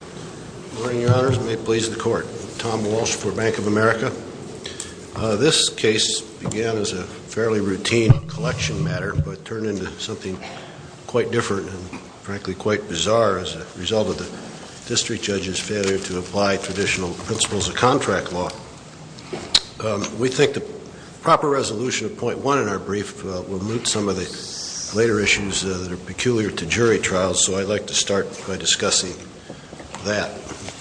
Good morning, your honors. May it please the court. Tom Walsh for Bank of America. This case began as a fairly routine collection matter, but turned into something quite different and frankly quite bizarre as a result of the district judge's failure to apply traditional principles of contract law. We think the proper resolution of point one in our brief will moot some of the later issues that are peculiar to jury trials, so I'd like to start by discussing that,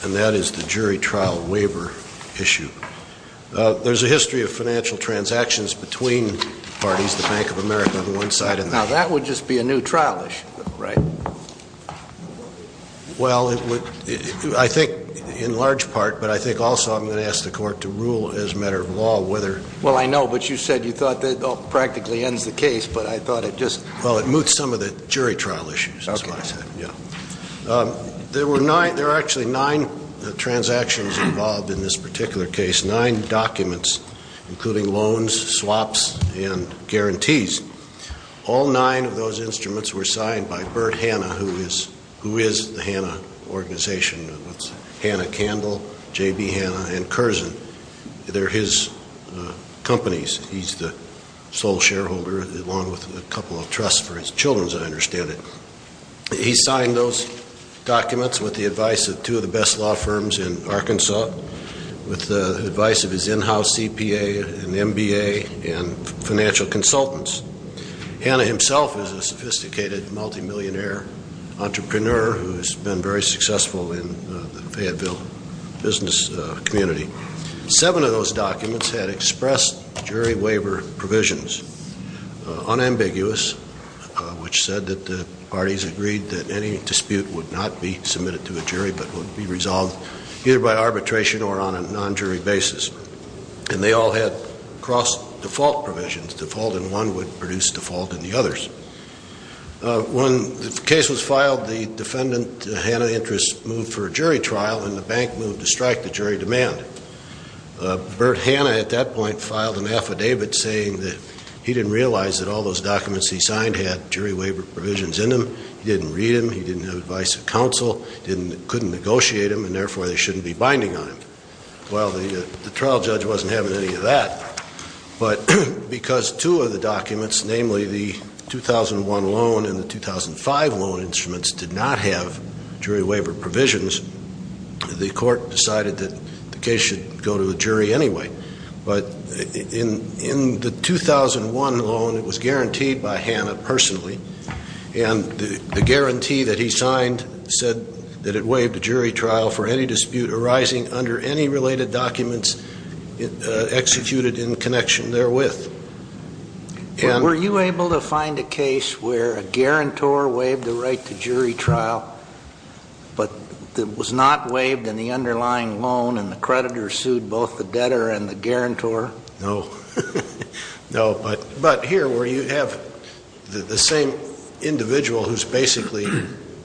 and that is the jury trial waiver issue. There's a history of financial transactions between parties, the Bank of America on one side and the other. Now that would just be a new trial issue, right? Well, I think in large part, but I think also I'm going to ask the court to rule as a matter of law whether Well, I know, but you said you thought that practically ends the case, but I thought it just Well, it moots some of the jury trial issues, that's what I said. There are actually nine transactions involved in this particular case, nine documents, including loans, swaps, and guarantees. All nine of those instruments were signed by Bert Hanna, who is the Hanna organization, Hanna-Candle, J.B. Hanna, and Curzon. They're his companies. He's the sole shareholder, along with a couple of trusts for his children, as I understand it. He signed those documents with the advice of two of the best law firms in Arkansas, with the advice of his in-house CPA and MBA and financial consultants. Hanna himself is a sophisticated multimillionaire entrepreneur who's been very successful in the Fayetteville business community. Seven of those documents had expressed jury waiver provisions. Unambiguous, which said that the parties agreed that any dispute would not be submitted to a jury, but would be resolved either by arbitration or on a non-jury basis. And they all had cross-default provisions. Default in one would produce default in the others. When the case was filed, the defendant, Hanna Interest, moved for a jury trial, and the bank moved to strike the jury demand. Bert Hanna, at that point, filed an affidavit saying that he didn't realize that all those documents he signed had jury waiver provisions in them. He didn't read them. He didn't have advice of counsel, couldn't negotiate them, and therefore they shouldn't be binding on him. Well, the trial judge wasn't having any of that. But because two of the documents, namely the 2001 loan and the 2005 loan instruments, did not have jury waiver provisions, the court decided that the case should go to the jury anyway. But in the 2001 loan, it was guaranteed by Hanna personally. And the guarantee that he signed said that it waived a jury trial for any dispute arising under any related documents executed in connection therewith. Were you able to find a case where a guarantor waived the right to jury trial, but it was not waived in the underlying loan, and the creditor sued both the debtor and the guarantor? No. No. But here, where you have the same individual who's basically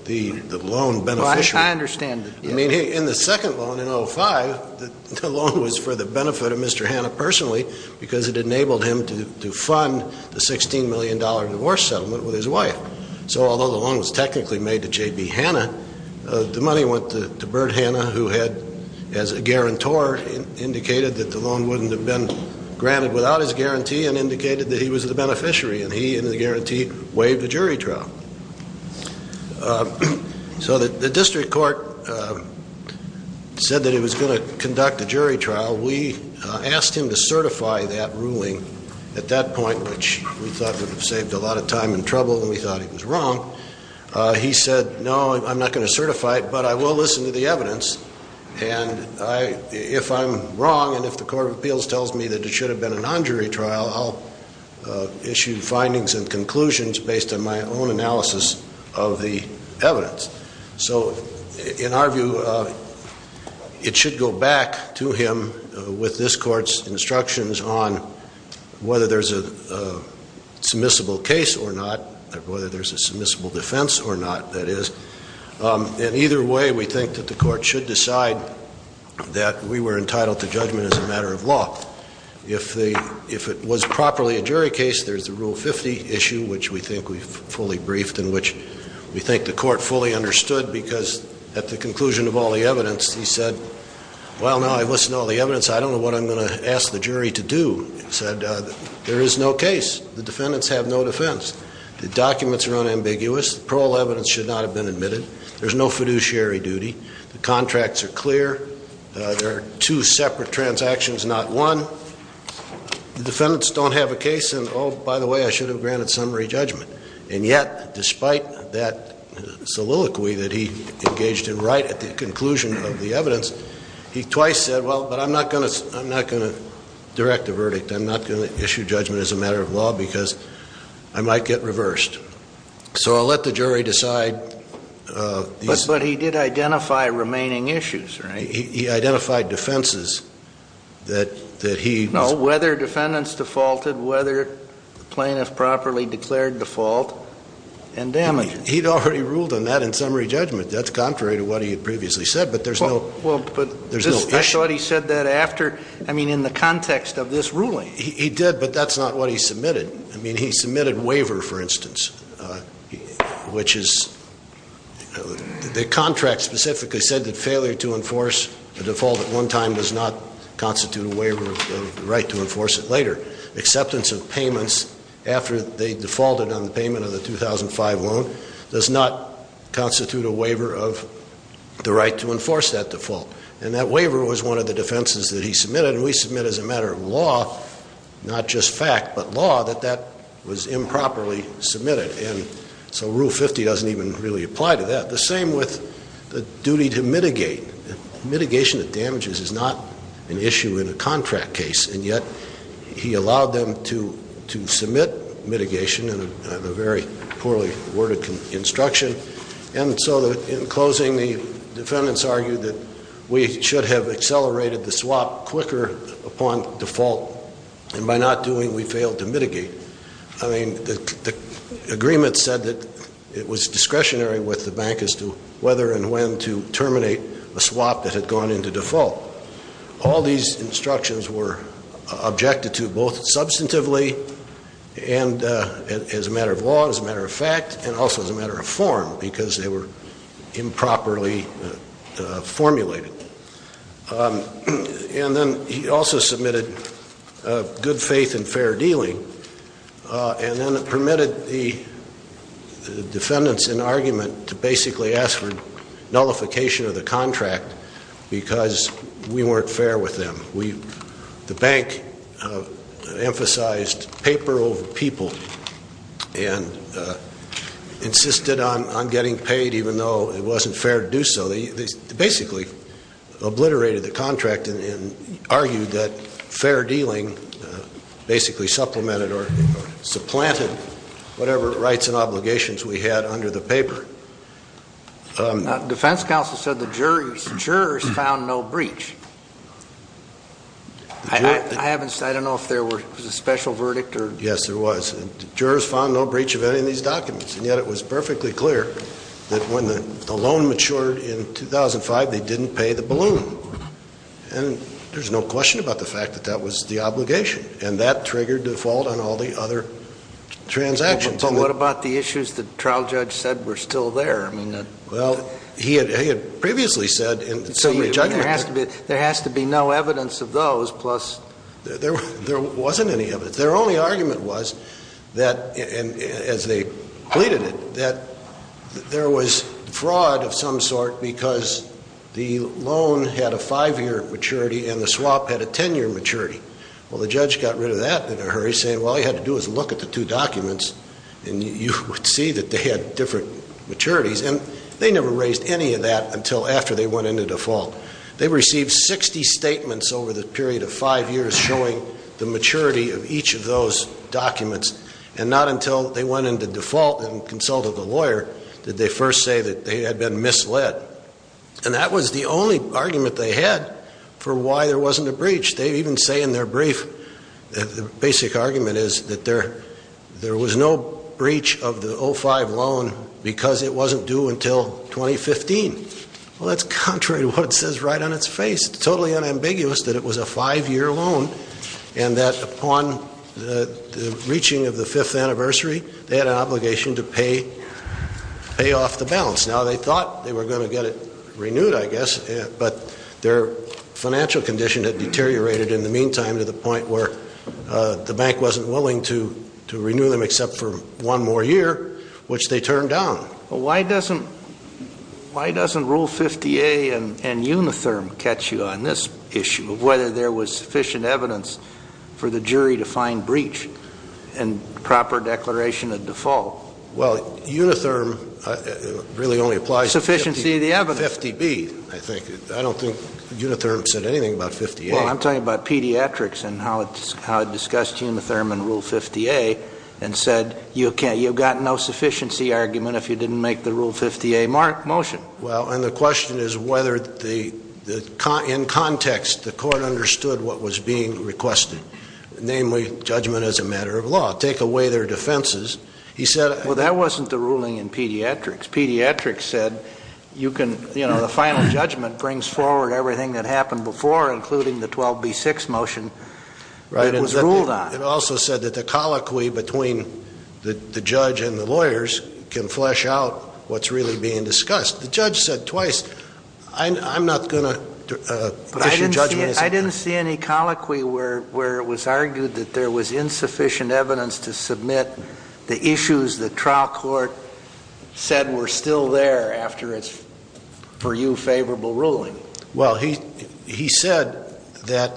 the loan beneficiary. I understand. I mean, in the second loan, in 2005, the loan was for the benefit of Mr. Hanna personally because it enabled him to fund the $16 million divorce settlement with his wife. So although the loan was technically made to J.B. Hanna, the money went to Bert Hanna, who had, as a guarantor, indicated that the loan wouldn't have been granted without his guarantee, and indicated that he was the beneficiary, and he, in the guarantee, waived the jury trial. So the district court said that it was going to conduct a jury trial. We asked him to certify that ruling at that point, which we thought would have saved a lot of time and trouble, and we thought he was wrong. He said, no, I'm not going to certify it, but I will listen to the evidence. And if I'm wrong and if the court of appeals tells me that it should have been a non-jury trial, I'll issue findings and conclusions based on my own analysis of the evidence. So in our view, it should go back to him with this court's instructions on whether there's a submissible case or not, or whether there's a submissible defense or not, that is. In either way, we think that the court should decide that we were entitled to judgment as a matter of law. If it was properly a jury case, there's the Rule 50 issue, which we think we've fully briefed and which we think the court fully understood, because at the conclusion of all the evidence, he said, well, now I've listened to all the evidence, I don't know what I'm going to ask the jury to do. He said, there is no case. The defendants have no defense. The documents are unambiguous. The parole evidence should not have been admitted. There's no fiduciary duty. The contracts are clear. There are two separate transactions, not one. The defendants don't have a case and, oh, by the way, I should have granted summary judgment. And yet, despite that soliloquy that he engaged in right at the conclusion of the evidence, he twice said, well, but I'm not going to direct a verdict. I'm not going to issue judgment as a matter of law because I might get reversed. So I'll let the jury decide. But he did identify remaining issues, right? He identified defenses that he was. No, whether defendants defaulted, whether the plaintiff properly declared default, and damages. He'd already ruled on that in summary judgment. That's contrary to what he had previously said, but there's no issue. I thought he said that after, I mean, in the context of this ruling. He did, but that's not what he submitted. I mean, he submitted waiver, for instance, which is the contract specifically said that failure to enforce a default at one time does not constitute a waiver of the right to enforce it later. Acceptance of payments after they defaulted on the payment of the 2005 loan does not constitute a waiver of the right to enforce that default. And that waiver was one of the defenses that he submitted. And we submit as a matter of law, not just fact, but law, that that was improperly submitted. And so Rule 50 doesn't even really apply to that. The same with the duty to mitigate. Mitigation of damages is not an issue in a contract case. And yet, he allowed them to submit mitigation in a very poorly worded instruction. And so in closing, the defendants argued that we should have accelerated the swap quicker upon default. And by not doing, we failed to mitigate. I mean, the agreement said that it was discretionary with the bank as to whether and when to terminate a swap that had gone into default. All these instructions were objected to both substantively and as a matter of law, as a matter of fact, and also as a matter of form because they were improperly formulated. And then he also submitted good faith and fair dealing. And then permitted the defendants in argument to basically ask for nullification of the contract because we weren't fair with them. The bank emphasized paper over people and insisted on getting paid even though it wasn't fair to do so. So they basically obliterated the contract and argued that fair dealing basically supplemented or supplanted whatever rights and obligations we had under the paper. Defense counsel said the jurors found no breach. I don't know if there was a special verdict. Yes, there was. The jurors found no breach of any of these documents. And yet it was perfectly clear that when the loan matured in 2005, they didn't pay the balloon. And there's no question about the fact that that was the obligation. And that triggered default on all the other transactions. But what about the issues the trial judge said were still there? Well, he had previously said in the jury judgment. So there has to be no evidence of those plus? There wasn't any evidence. But their only argument was that, as they pleaded it, that there was fraud of some sort because the loan had a five-year maturity and the swap had a ten-year maturity. Well, the judge got rid of that in a hurry, saying all you had to do was look at the two documents and you would see that they had different maturities. And they never raised any of that until after they went into default. They received 60 statements over the period of five years showing the maturity of each of those documents. And not until they went into default and consulted the lawyer did they first say that they had been misled. And that was the only argument they had for why there wasn't a breach. They even say in their brief that the basic argument is that there was no breach of the 2005 loan because it wasn't due until 2015. Well, that's contrary to what it says right on its face. It's totally unambiguous that it was a five-year loan and that upon the reaching of the fifth anniversary, they had an obligation to pay off the balance. Now, they thought they were going to get it renewed, I guess, but their financial condition had deteriorated in the meantime to the point where the bank wasn't willing to renew them except for one more year, which they turned down. Well, why doesn't Rule 50A and Unitherm catch you on this issue of whether there was sufficient evidence for the jury to find breach and proper declaration of default? Well, Unitherm really only applies to 50B, I think. I don't think Unitherm said anything about 50A. Well, I'm talking about pediatrics and how it discussed Unitherm and Rule 50A and said you've got no sufficiency argument if you didn't make the Rule 50A motion. Well, and the question is whether in context the court understood what was being requested, namely judgment as a matter of law, take away their defenses. Well, that wasn't the ruling in pediatrics. Pediatrics said the final judgment brings forward everything that happened before, including the 12B6 motion that was ruled on. It also said that the colloquy between the judge and the lawyers can flesh out what's really being discussed. The judge said twice, I'm not going to issue judgment as a matter of law. But I didn't see any colloquy where it was argued that there was insufficient evidence to submit the issues the trial court said were still there after its, for you, favorable ruling. Well, he said that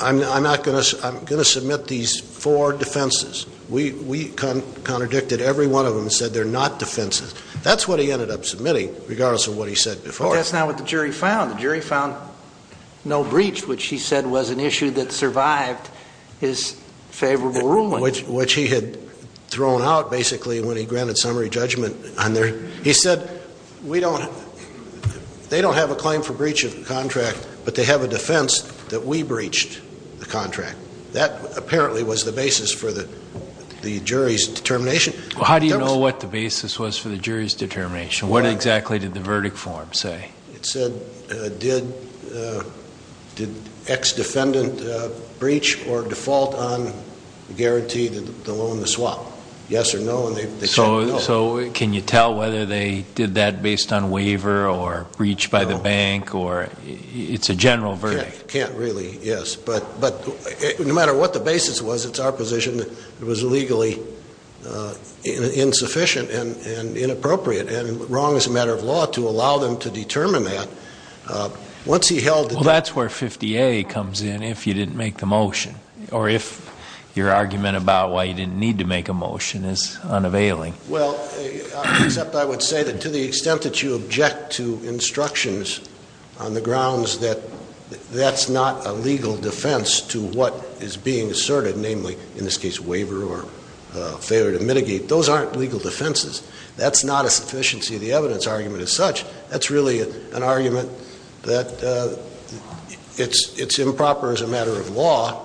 I'm going to submit these four defenses. We contradicted every one of them and said they're not defenses. That's what he ended up submitting, regardless of what he said before. Well, that's not what the jury found. The jury found no breach, which he said was an issue that survived his favorable ruling. Which he had thrown out, basically, when he granted summary judgment. He said they don't have a claim for breach of contract, but they have a defense that we breached the contract. That apparently was the basis for the jury's determination. Well, how do you know what the basis was for the jury's determination? What exactly did the verdict form say? It said, did ex-defendant breach or default on guarantee the loan to swap? Yes or no, and they said no. So can you tell whether they did that based on waiver or breach by the bank, or it's a general verdict? Can't really, yes. But no matter what the basis was, it's our position that it was legally insufficient and inappropriate and wrong as a matter of law to allow them to determine that. Well, that's where 50A comes in if you didn't make the motion, or if your argument about why you didn't need to make a motion is unavailing. Well, except I would say that to the extent that you object to instructions on the grounds that that's not a legal defense to what is being asserted, namely, in this case, waiver or failure to mitigate, those aren't legal defenses. That's not a sufficiency of the evidence argument as such. That's really an argument that it's improper as a matter of law,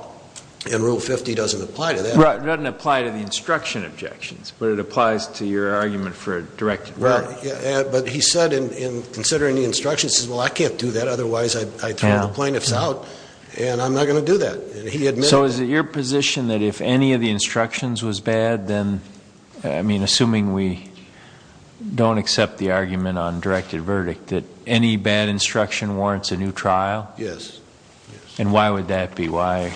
and Rule 50 doesn't apply to that. Right, it doesn't apply to the instruction objections, but it applies to your argument for a directed verdict. Right, but he said in considering the instructions, he says, well, I can't do that, otherwise I'd throw the plaintiffs out, and I'm not going to do that. So is it your position that if any of the instructions was bad, then, I mean, assuming we don't accept the argument on directed verdict, that any bad instruction warrants a new trial? Yes. And why would that be? Why?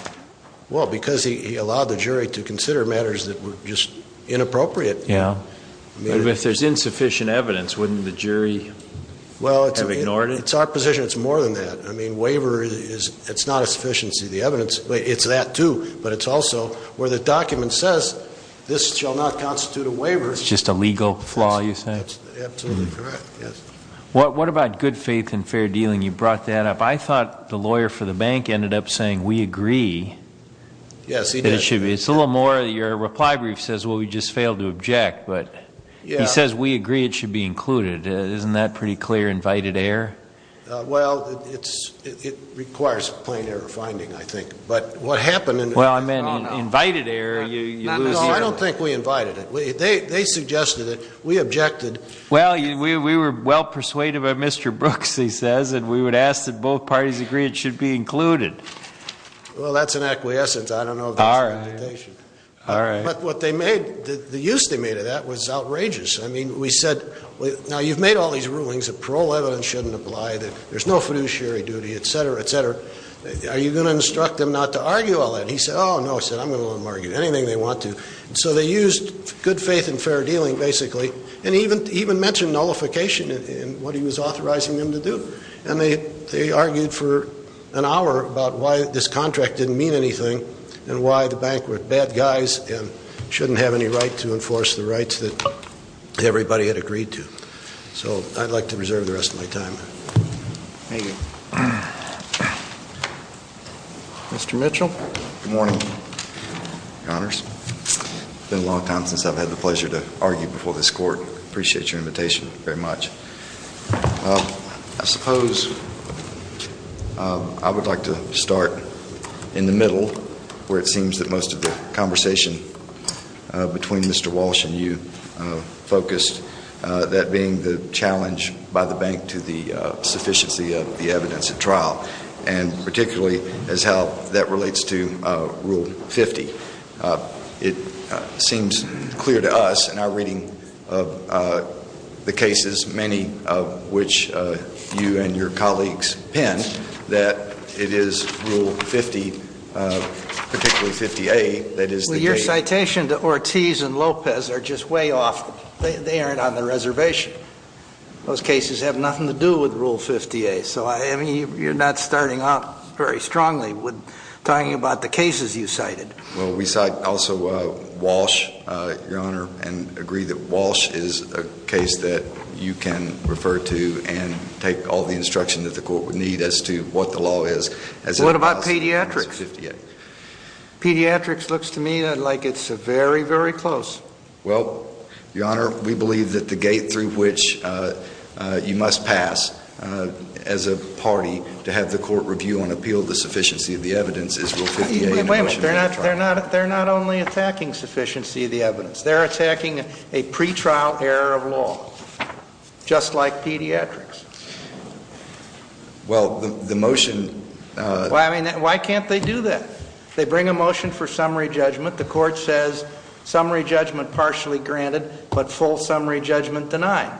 Well, because he allowed the jury to consider matters that were just inappropriate. Yeah, but if there's insufficient evidence, wouldn't the jury have ignored it? Well, it's our position it's more than that. I mean, waiver is not a sufficiency of the evidence. It's that, too, but it's also where the document says this shall not constitute a waiver. It's just a legal flaw, you say? That's absolutely correct, yes. What about good faith and fair dealing? You brought that up. I thought the lawyer for the bank ended up saying we agree. Yes, he did. It's a little more your reply brief says, well, we just failed to object, but he says we agree it should be included. Isn't that pretty clear invited error? Well, it requires a plain error finding, I think, but what happened in the Well, I meant invited error. No, I don't think we invited it. They suggested it. We objected. Well, we were well persuaded by Mr. Brooks, he says, and we would ask that both parties agree it should be included. Well, that's an acquiescence. I don't know if that's an invitation. All right. But what they made, the use they made of that was outrageous. Now, you've made all these rulings that parole evidence shouldn't apply, that there's no fiduciary duty, et cetera, et cetera. Are you going to instruct them not to argue all that? He said, oh, no. He said, I'm going to let them argue anything they want to. So they used good faith and fair dealing, basically, and even mentioned nullification in what he was authorizing them to do. And they argued for an hour about why this contract didn't mean anything and why the bank were bad guys and shouldn't have any right to enforce the rights that everybody had agreed to. So I'd like to reserve the rest of my time. Thank you. Mr. Mitchell. Good morning, Your Honors. It's been a long time since I've had the pleasure to argue before this court. I appreciate your invitation very much. I suppose I would like to start in the middle, where it seems that most of the conversation between Mr. Walsh and you focused, that being the challenge by the bank to the sufficiency of the evidence at trial, and particularly as how that relates to Rule 50. It seems clear to us in our reading of the cases, many of which you and your colleagues penned, that it is Rule 50, particularly 50A, that is the date. Well, your citation to Ortiz and Lopez are just way off. They aren't on the reservation. Those cases have nothing to do with Rule 50A. So you're not starting off very strongly with talking about the cases you cited. Well, we cite also Walsh, Your Honor, and agree that Walsh is a case that you can refer to and take all the instruction that the court would need as to what the law is. What about pediatrics? Pediatrics looks to me like it's very, very close. Well, Your Honor, we believe that the gate through which you must pass as a party to have the court review and appeal the sufficiency of the evidence is Rule 50A. Wait a minute. They're not only attacking sufficiency of the evidence. They're attacking a pretrial error of law, just like pediatrics. Well, the motion — I mean, why can't they do that? They bring a motion for summary judgment. The court says summary judgment partially granted, but full summary judgment denied.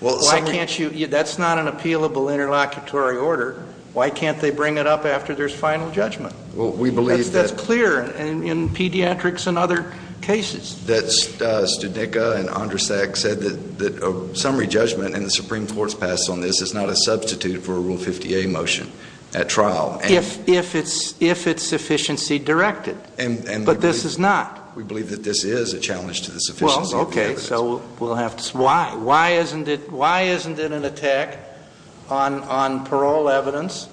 Why can't you — that's not an appealable interlocutory order. Why can't they bring it up after there's final judgment? That's clear in pediatrics and other cases. Studica and Andrasek said that a summary judgment, and the Supreme Court's pass on this, is not a substitute for a Rule 50A motion at trial. If it's sufficiency directed. But this is not. We believe that this is a challenge to the sufficiency of the evidence. Well, okay. So we'll have to — why? Why isn't it an attack on parole evidence?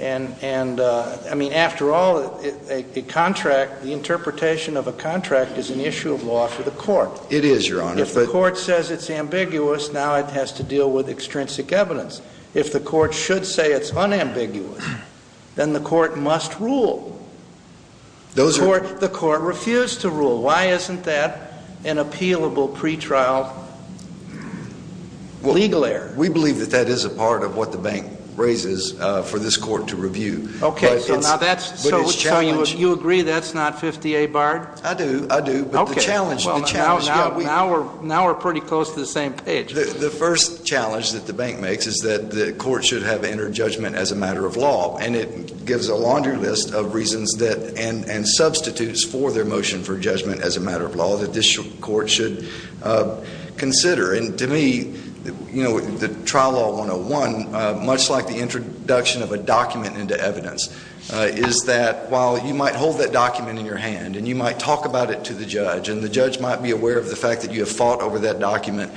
And, I mean, after all, a contract — the interpretation of a contract is an issue of law for the court. It is, Your Honor. If the court says it's ambiguous, now it has to deal with extrinsic evidence. If the court should say it's unambiguous, then the court must rule. Those are — The court refused to rule. Why isn't that an appealable pretrial legal error? We believe that that is a part of what the bank raises for this court to review. Okay, so now that's — But it's a challenge. So you agree that's not 50A barred? I do, I do. Okay. But the challenge — Now we're pretty close to the same page. The first challenge that the bank makes is that the court should have entered judgment as a matter of law, and it gives a laundry list of reasons that — and substitutes for their motion for judgment as a matter of law that this court should consider. And to me, you know, the trial law 101, much like the introduction of a document into evidence, is that while you might hold that document in your hand and you might talk about it to the judge and the judge might be aware of the fact that you have fought over that document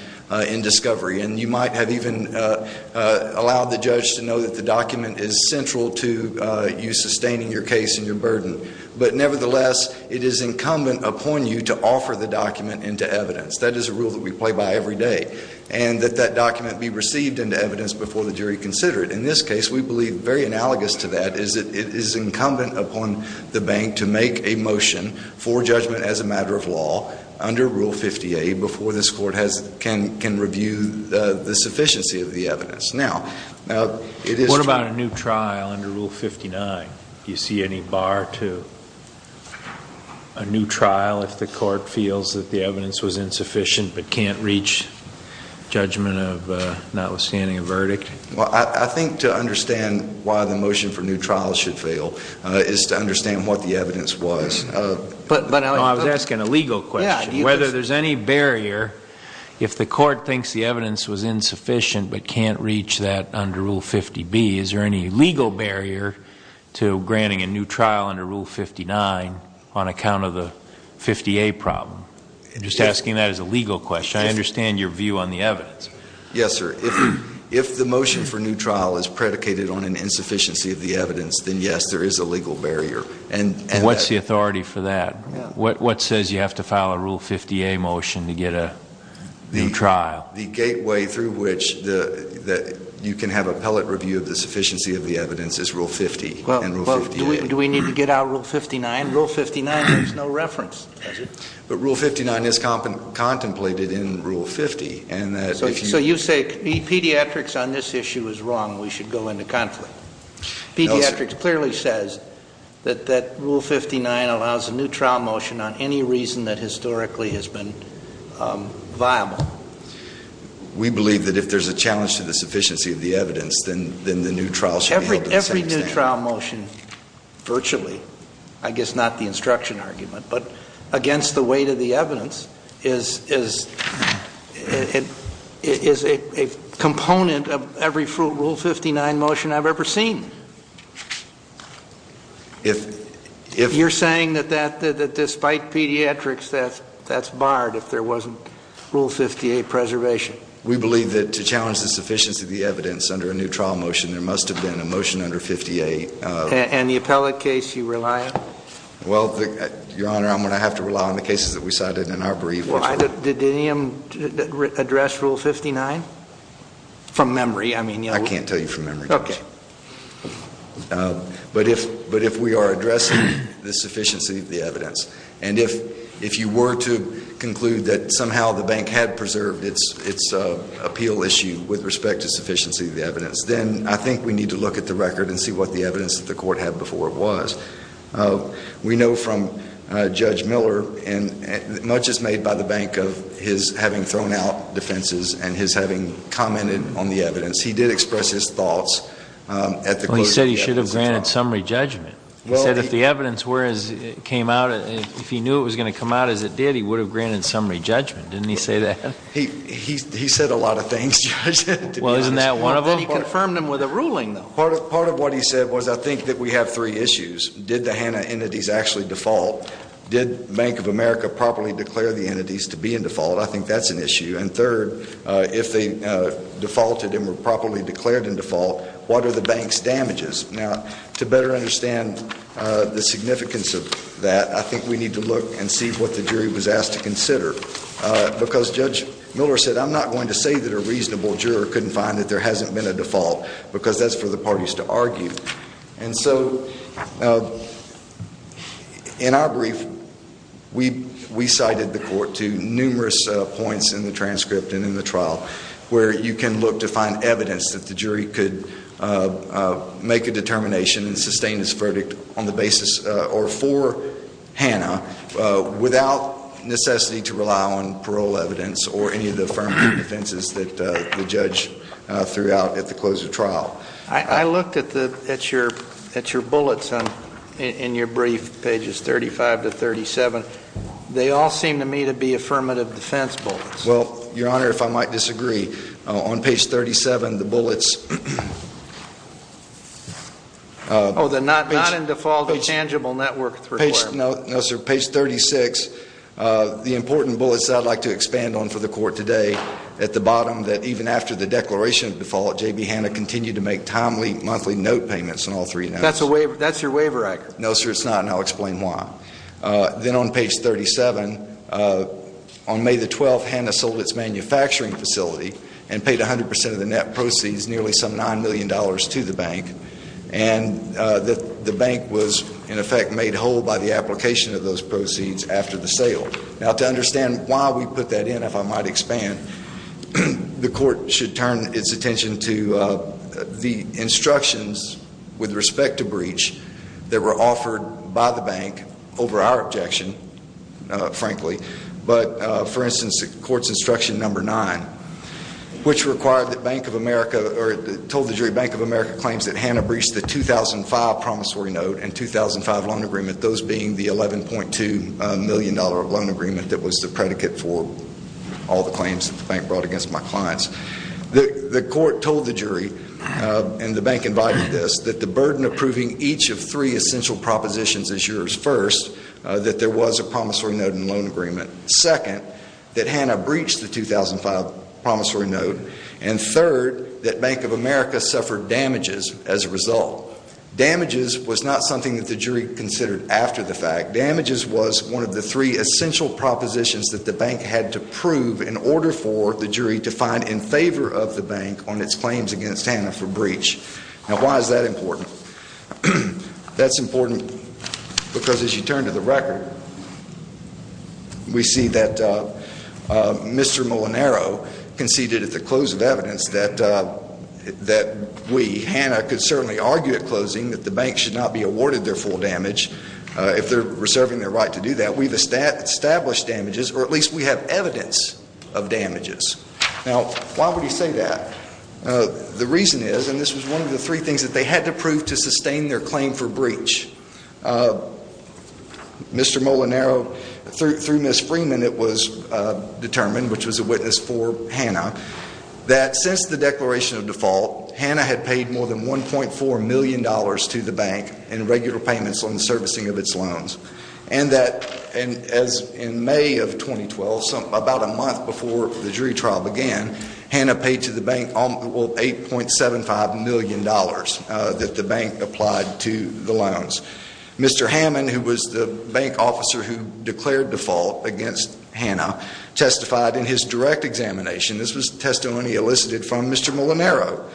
in discovery and you might have even allowed the judge to know that the document is central to you sustaining your case and your burden. But nevertheless, it is incumbent upon you to offer the document into evidence. That is a rule that we play by every day, and that that document be received into evidence before the jury consider it. In this case, we believe very analogous to that is that it is incumbent upon the bank to make a motion for judgment as a matter of law under Rule 58 before this court can review the sufficiency of the evidence. Now, it is — What about a new trial under Rule 59? Do you see any bar to a new trial if the court feels that the evidence was insufficient but can't reach judgment of notwithstanding a verdict? Well, I think to understand why the motion for new trials should fail is to understand what the evidence was. But — No, I was asking a legal question. Yeah. Whether there's any barrier if the court thinks the evidence was insufficient but can't reach that under Rule 50B, is there any legal barrier to granting a new trial under Rule 59 on account of the 50A problem? I'm just asking that as a legal question. I understand your view on the evidence. Yes, sir. If the motion for new trial is predicated on an insufficiency of the evidence, then, yes, there is a legal barrier. And what's the authority for that? Yeah. What says you have to file a Rule 50A motion to get a new trial? The gateway through which you can have a pellet review of the sufficiency of the evidence is Rule 50 and Rule 58. Well, do we need to get out Rule 59? Rule 59 has no reference. But Rule 59 is contemplated in Rule 50. So you say pediatrics on this issue is wrong and we should go into conflict. Pediatrics clearly says that Rule 59 allows a new trial motion on any reason that historically has been viable. We believe that if there's a challenge to the sufficiency of the evidence, then the new trial should be held in the same standard. A new trial motion virtually, I guess not the instruction argument, but against the weight of the evidence is a component of every Rule 59 motion I've ever seen. You're saying that despite pediatrics, that's barred if there wasn't Rule 58 preservation? We believe that to challenge the sufficiency of the evidence under a new trial motion, there must have been a motion under 58. And the appellate case you rely on? Well, Your Honor, I'm going to have to rely on the cases that we cited in our brief. Did any of them address Rule 59? From memory, I mean. I can't tell you from memory. But if we are addressing the sufficiency of the evidence, and if you were to conclude that somehow the bank had preserved its appeal issue with respect to sufficiency of the evidence, then I think we need to look at the record and see what the evidence that the court had before it was. We know from Judge Miller, not just made by the bank of his having thrown out defenses and his having commented on the evidence, he did express his thoughts at the court. He said he should have granted summary judgment. He said if the evidence were as it came out, if he knew it was going to come out as it did, he would have granted summary judgment. Didn't he say that? He said a lot of things, Judge, to be honest. Well, isn't that one of them? And he confirmed them with a ruling, though. Part of what he said was I think that we have three issues. Did the HANA entities actually default? Did Bank of America properly declare the entities to be in default? I think that's an issue. And third, if they defaulted and were properly declared in default, what are the bank's damages? Now, to better understand the significance of that, I think we need to look and see what the jury was asked to consider. Because Judge Miller said I'm not going to say that a reasonable juror couldn't find that there hasn't been a default because that's for the parties to argue. And so in our brief, we cited the court to numerous points in the transcript and in the trial where you can look to find evidence that the jury could make a determination and sustain its verdict on the basis or for HANA without necessity to rely on parole evidence or any of the affirmative defenses that the judge threw out at the close of trial. I looked at your bullets in your brief, pages 35 to 37. They all seem to me to be affirmative defense bullets. Well, Your Honor, if I might disagree, on page 37, the bullets... Oh, the not in default intangible network requirement. No, sir. Page 36, the important bullets that I'd like to expand on for the court today at the bottom that even after the declaration of default, J.B. HANA continued to make timely monthly note payments on all three notes. That's your waiver record. No, sir, it's not, and I'll explain why. Then on page 37, on May the 12th, HANA sold its manufacturing facility and paid 100% of the net proceeds, nearly some $9 million to the bank. And the bank was, in effect, made whole by the application of those proceeds after the sale. Now, to understand why we put that in, if I might expand, the court should turn its attention to the instructions with respect to breach that were offered by the bank over our objection, frankly. But, for instance, the court's instruction number nine, which required that Bank of America or told the jury Bank of America claims that HANA breached the 2005 promissory note and 2005 loan agreement, those being the $11.2 million loan agreement that was the predicate for all the claims that the bank brought against my clients. The court told the jury, and the bank invited this, that the burden of proving each of three essential propositions is yours. First, that there was a promissory note and loan agreement. Second, that HANA breached the 2005 promissory note. And third, that Bank of America suffered damages as a result. Damages was not something that the jury considered after the fact. on its claims against HANA for breach. Now, why is that important? That's important because, as you turn to the record, we see that Mr. Molinaro conceded at the close of evidence that we, HANA, could certainly argue at closing that the bank should not be awarded their full damage if they're reserving their right to do that. We've established damages, or at least we have evidence of damages. Now, why would he say that? The reason is, and this was one of the three things that they had to prove to sustain their claim for breach. Mr. Molinaro, through Ms. Freeman, it was determined, which was a witness for HANA, that since the declaration of default, HANA had paid more than $1.4 million to the bank in regular payments on the servicing of its loans. And that, as in May of 2012, about a month before the jury trial began, HANA paid to the bank, well, $8.75 million that the bank applied to the loans. Mr. Hammond, who was the bank officer who declared default against HANA, testified in his direct examination, this was testimony elicited from Mr. Molinaro,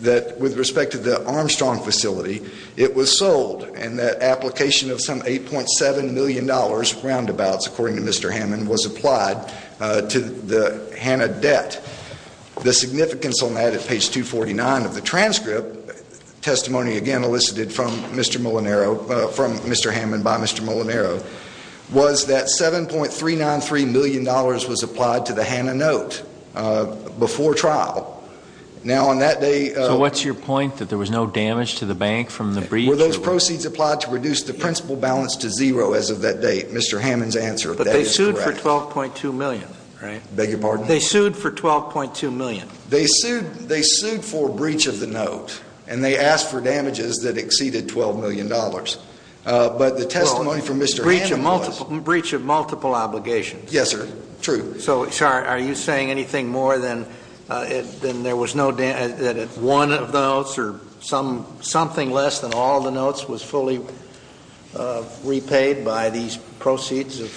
that with respect to the Armstrong facility, it was sold, and that application of some $8.7 million roundabouts, according to Mr. Hammond, was applied to the HANA debt. The significance on that at page 249 of the transcript, testimony again elicited from Mr. Molinaro, from Mr. Hammond by Mr. Molinaro, was that $7.393 million was applied to the HANA note before trial. Now on that day... So what's your point, that there was no damage to the bank from the breach? Were those proceeds applied to reduce the principal balance to zero as of that date? Mr. Hammond's answer, that is correct. But they sued for $12.2 million, right? I beg your pardon? They sued for $12.2 million. They sued for breach of the note, and they asked for damages that exceeded $12 million. But the testimony from Mr. Hammond was... Well, breach of multiple obligations. Yes, sir. True. So are you saying anything more than there was no damage, that one of the notes or something less than all the notes was fully repaid by these proceeds of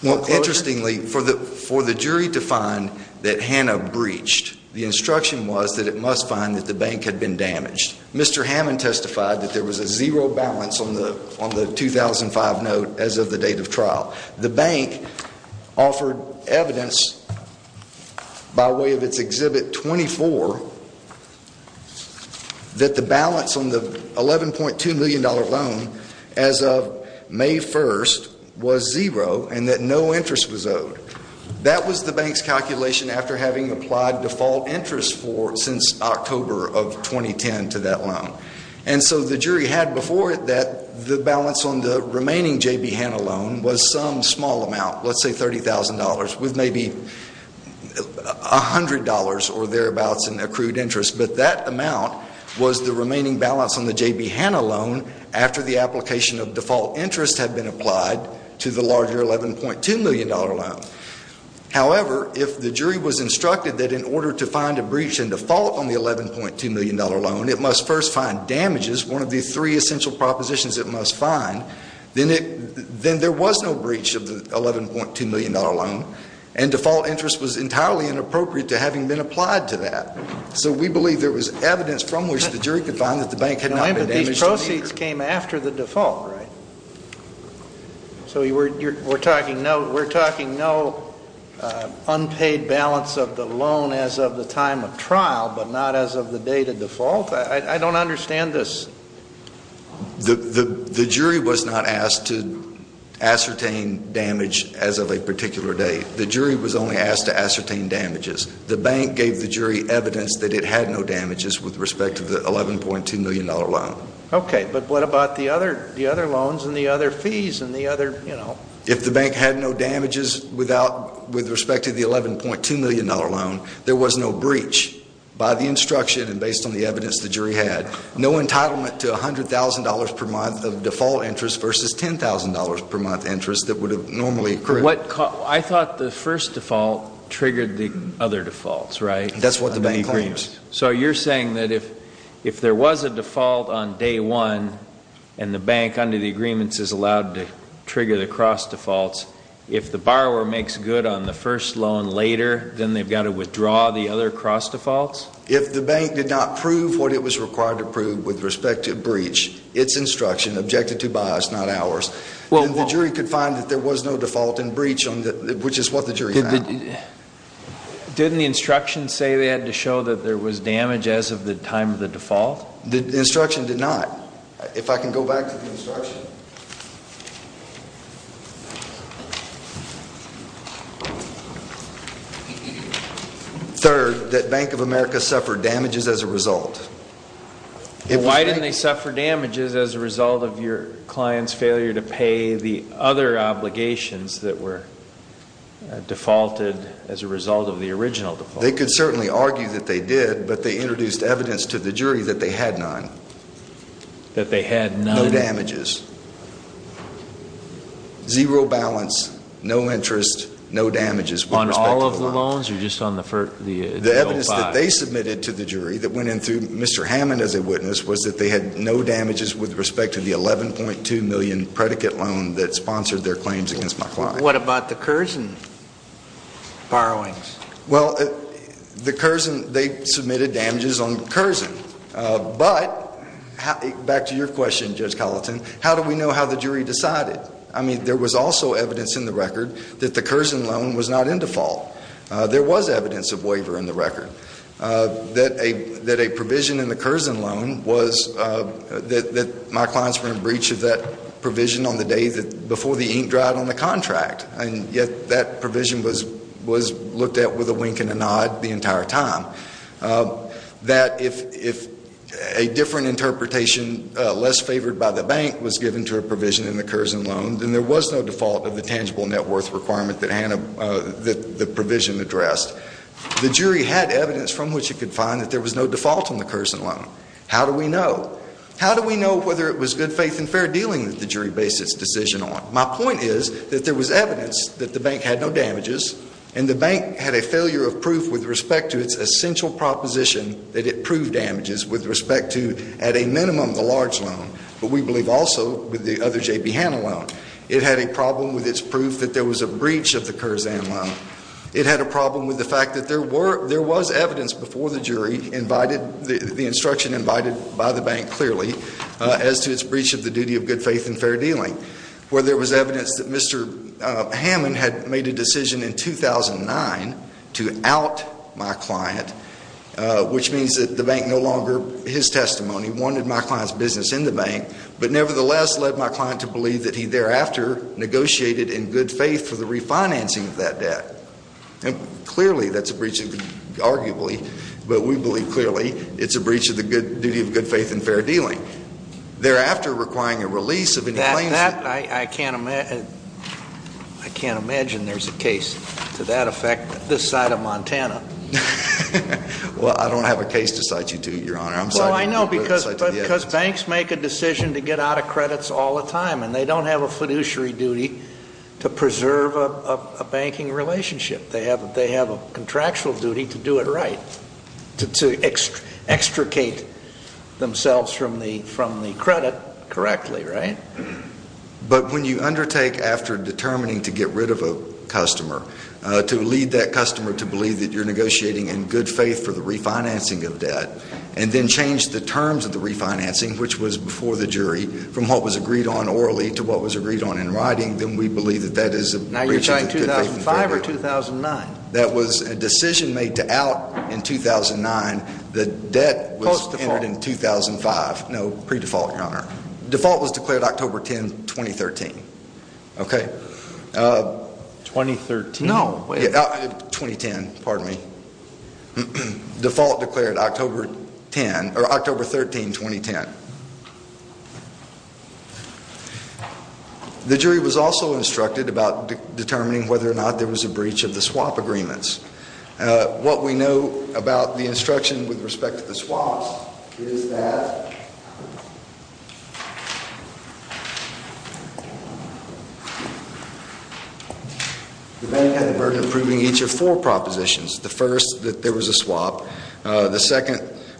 closures? Well, interestingly, for the jury to find that HANA breached, the instruction was that it must find that the bank had been damaged. Mr. Hammond testified that there was a zero balance on the 2005 note as of the date of trial. The bank offered evidence by way of its Exhibit 24 that the balance on the $11.2 million loan as of May 1st was zero and that no interest was owed. That was the bank's calculation after having applied default interest since October of 2010 to that loan. And so the jury had before it that the balance on the remaining J.B. HANA loan was some small amount, let's say $30,000, with maybe $100 or thereabouts in accrued interest. But that amount was the remaining balance on the J.B. HANA loan after the application of default interest had been applied to the larger $11.2 million loan. However, if the jury was instructed that in order to find a breach and default on the $11.2 million loan, it must first find damages, one of the three essential propositions it must find, then there was no breach of the $11.2 million loan and default interest was entirely inappropriate to having been applied to that. So we believe there was evidence from which the jury could find that the bank had not been damaging the interest. But these proceeds came after the default, right? So we're talking no unpaid balance of the loan as of the time of trial but not as of the date of default? I don't understand this. The jury was not asked to ascertain damage as of a particular date. The jury was only asked to ascertain damages. The bank gave the jury evidence that it had no damages with respect to the $11.2 million loan. Okay. But what about the other loans and the other fees and the other, you know? If the bank had no damages with respect to the $11.2 million loan, there was no breach by the instruction and based on the evidence the jury had. No entitlement to $100,000 per month of default interest versus $10,000 per month interest that would have normally occurred. I thought the first default triggered the other defaults, right? That's what the bank claims. So you're saying that if there was a default on day one and the bank under the agreements is allowed to trigger the cross defaults, if the borrower makes good on the first loan later, then they've got to withdraw the other cross defaults? If the bank did not prove what it was required to prove with respect to a breach, its instruction, not ours, then the jury could find that there was no default and breach, which is what the jury found. Didn't the instruction say they had to show that there was damage as of the time of the default? The instruction did not. If I can go back to the instruction. Third, that Bank of America suffered damages as a result. Why didn't they suffer damages as a result of your client's failure to pay the other obligations that were defaulted as a result of the original default? They could certainly argue that they did, but they introduced evidence to the jury that they had none. That they had none? No damages. Zero balance, no interest, no damages with respect to the loan. On all of the loans or just on the first? The evidence that they submitted to the jury that went in through Mr. Hammond as a witness was that they had no damages with respect to the $11.2 million predicate loan that sponsored their claims against my client. What about the Curzon borrowings? Well, the Curzon, they submitted damages on Curzon. But, back to your question, Judge Colleton, how do we know how the jury decided? I mean, there was also evidence in the record that the Curzon loan was not in default. There was evidence of waiver in the record. That a provision in the Curzon loan was that my clients were in breach of that provision on the day before the ink dried on the contract. And yet that provision was looked at with a wink and a nod the entire time. That if a different interpretation less favored by the bank was given to a provision in the Curzon loan, then there was no default of the tangible net worth requirement that the provision addressed. The jury had evidence from which it could find that there was no default on the Curzon loan. How do we know? How do we know whether it was good faith and fair dealing that the jury based its decision on? My point is that there was evidence that the bank had no damages and the bank had a failure of proof with respect to its essential proposition that it proved damages with respect to at a minimum the large loan, but we believe also with the other J.B. Hanna loan. It had a problem with its proof that there was a breach of the Curzon loan. It had a problem with the fact that there was evidence before the jury, the instruction invited by the bank clearly, as to its breach of the duty of good faith and fair dealing, where there was evidence that Mr. Hammond had made a decision in 2009 to out my client, which means that the bank no longer, his testimony, wanted my client's business in the bank, but nevertheless led my client to believe that he thereafter negotiated in good faith for the refinancing of that debt. Clearly that's a breach, arguably, but we believe clearly it's a breach of the duty of good faith and fair dealing. Thereafter requiring a release of any claims that I can't imagine there's a case to that effect this side of Montana. Well, I don't have a case to cite you to, Your Honor. Well, I know because banks make a decision to get out of credits all the time and they don't have a fiduciary duty to preserve a banking relationship. They have a contractual duty to do it right, to extricate themselves from the credit correctly, right? But when you undertake, after determining to get rid of a customer, to lead that customer to believe that you're negotiating in good faith for the refinancing of debt and then change the terms of the refinancing, which was before the jury, from what was agreed on orally to what was agreed on in writing, then we believe that that is a breach of the duty of good faith and fair dealing. Now you're talking 2005 or 2009? That was a decision made to out in 2009. The debt was entered in 2005. Post-default? No, pre-default, Your Honor. Default was declared October 10, 2013. Okay. 2013? No, wait. 2010, pardon me. Default declared October 10, or October 13, 2010. The jury was also instructed about determining whether or not there was a breach of the swap agreements. What we know about the instruction with respect to the swaps is that the bank had the burden of proving each of four propositions. The first, that there was a swap. The second,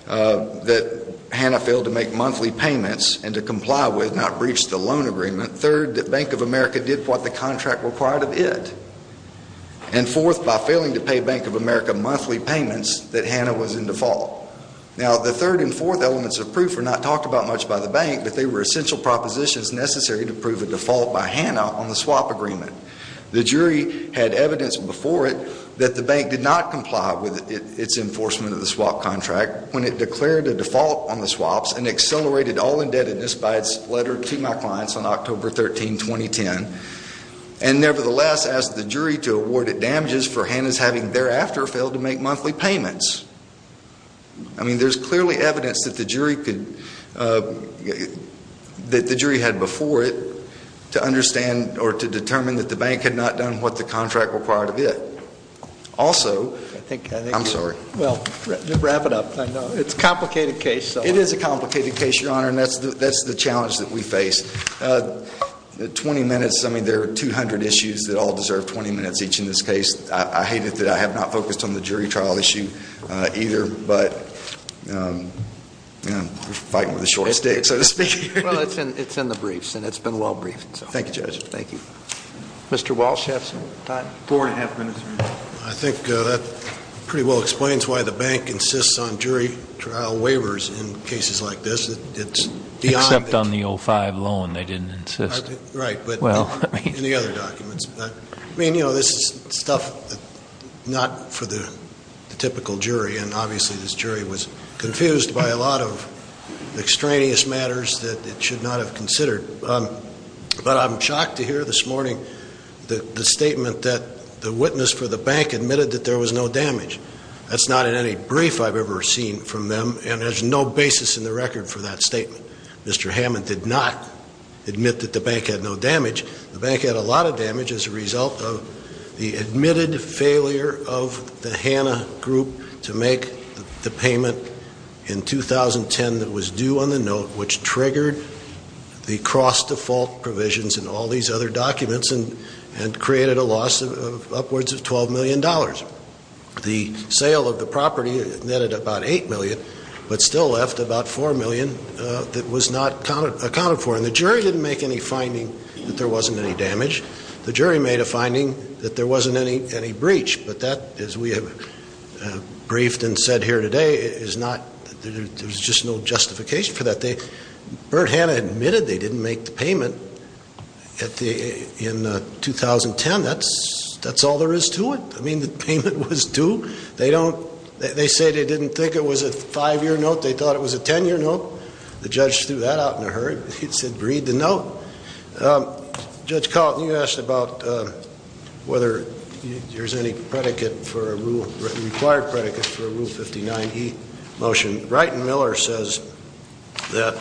that Hanna failed to make monthly payments and to comply with, not breach the loan agreement. Third, that Bank of America did what the contract required of it. And fourth, by failing to pay Bank of America monthly payments, that Hanna was in default. Now the third and fourth elements of proof were not talked about much by the bank, but they were essential propositions necessary to prove a default by Hanna on the swap agreement. The jury had evidence before it that the bank did not comply with its enforcement of the swap contract when it declared a default on the swaps and accelerated all indebtedness by its letter to my clients on October 13, 2010. And nevertheless, asked the jury to award it damages for Hanna's having thereafter failed to make monthly payments. I mean, there's clearly evidence that the jury could, that the jury had before it to understand or to determine that the bank had not done what the contract required of it. Also, I'm sorry. Well, wrap it up. It's a complicated case. It is a complicated case, Your Honor, and that's the challenge that we face. Twenty minutes. I mean, there are 200 issues that all deserve 20 minutes each in this case. I hate it that I have not focused on the jury trial issue either, but we're fighting with a short stick, so to speak. Well, it's in the briefs, and it's been well briefed. Thank you, Judge. Thank you. Mr. Walsh, you have some time? Four and a half minutes. I think that pretty well explains why the bank insists on jury trial waivers in cases like this. Except on the 05 loan they didn't insist. Right, but in the other documents. I mean, you know, this is stuff not for the typical jury, and obviously this jury was confused by a lot of extraneous matters that it should not have considered. But I'm shocked to hear this morning the statement that the witness for the bank admitted that there was no damage. That's not in any brief I've ever seen from them, and there's no basis in the record for that statement. Mr. Hammond did not admit that the bank had no damage. The bank had a lot of damage as a result of the admitted failure of the Hanna Group to make the payment in 2010 that was due on the note, which triggered the cross-default provisions in all these other documents and created a loss of upwards of $12 million. The sale of the property netted about $8 million, but still left about $4 million that was not accounted for. And the jury didn't make any finding that there wasn't any damage. The jury made a finding that there wasn't any breach. But that, as we have briefed and said here today, there's just no justification for that. Burt Hanna admitted they didn't make the payment in 2010. That's all there is to it. I mean, the payment was due. They say they didn't think it was a five-year note. They thought it was a ten-year note. The judge threw that out in a hurry. He said, read the note. Judge Coulton, you asked about whether there's any required predicate for a Rule 59e motion. Wright and Miller says that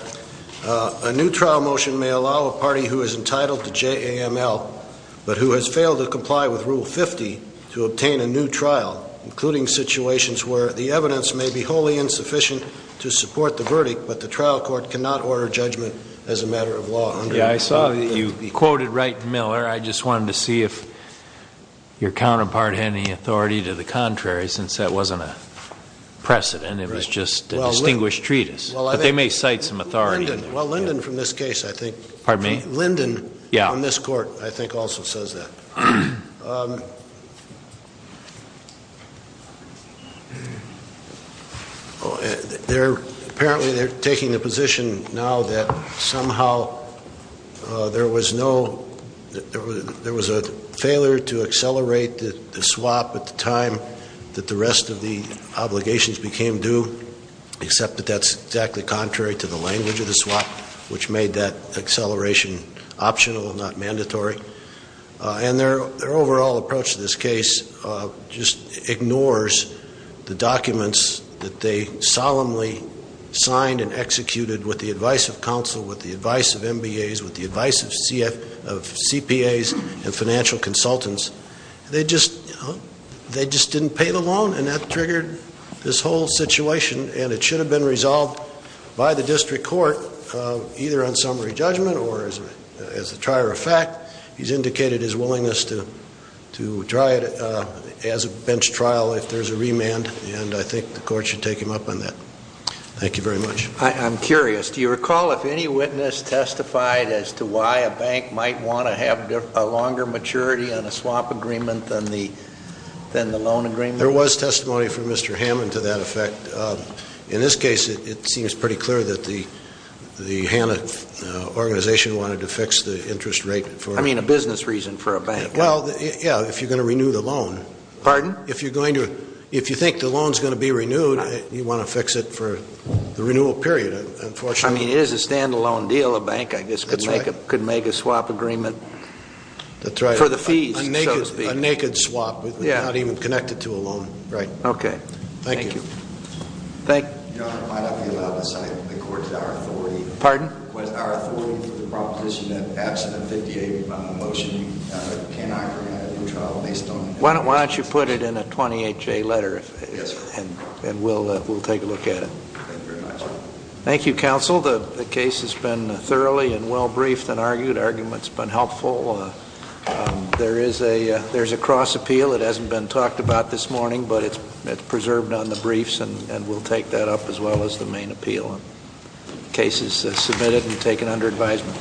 a new trial motion may allow a party who is entitled to JAML, but who has failed to comply with Rule 50, to obtain a new trial, including situations where the evidence may be wholly insufficient to support the verdict, but the trial court cannot order judgment as a matter of law. Yeah, I saw that you quoted Wright and Miller. I just wanted to see if your counterpart had any authority to the contrary, since that wasn't a precedent. It was just a distinguished treatise. But they may cite some authority in there. Well, Linden from this case, I think. Pardon me? Linden on this court, I think, also says that. Apparently they're taking the position now that somehow there was no ‑‑ except that that's exactly contrary to the language of the swap, which made that acceleration optional, not mandatory. And their overall approach to this case just ignores the documents that they solemnly signed and executed with the advice of counsel, with the advice of MBAs, with the advice of CPAs and financial consultants. They just didn't pay the loan, and that triggered this whole situation, and it should have been resolved by the district court either on summary judgment or as a trier of fact. He's indicated his willingness to try it as a bench trial if there's a remand, and I think the court should take him up on that. Thank you very much. I'm curious. Do you recall if any witness testified as to why a bank might want to have a longer maturity on a swap agreement than the loan agreement? There was testimony from Mr. Hammond to that effect. In this case, it seems pretty clear that the HANA organization wanted to fix the interest rate for ‑‑ I mean a business reason for a bank. Well, yeah, if you're going to renew the loan. Pardon? If you think the loan is going to be renewed, you want to fix it for the renewal period, unfortunately. I mean, it is a standalone deal. A bank, I guess, could make a swap agreement for the fees, so to speak. That's right. A naked swap. Yeah. Not even connected to a loan. Right. Okay. Thank you. Thank you. Thank you. Your Honor, why not be allowed to cite the court as our authority? Pardon? Was our authority for the proposition that absent a 58‑month motion, we cannot recommend a new trial based on ‑‑ Why don't you put it in a 28‑J letter, and we'll take a look at it. Thank you very much. Thank you, counsel. The case has been thoroughly and well briefed and argued. Argument's been helpful. There is a cross appeal. It hasn't been talked about this morning, but it's preserved on the briefs, and we'll take that up as well as the main appeal. Case is submitted and taken under advisement.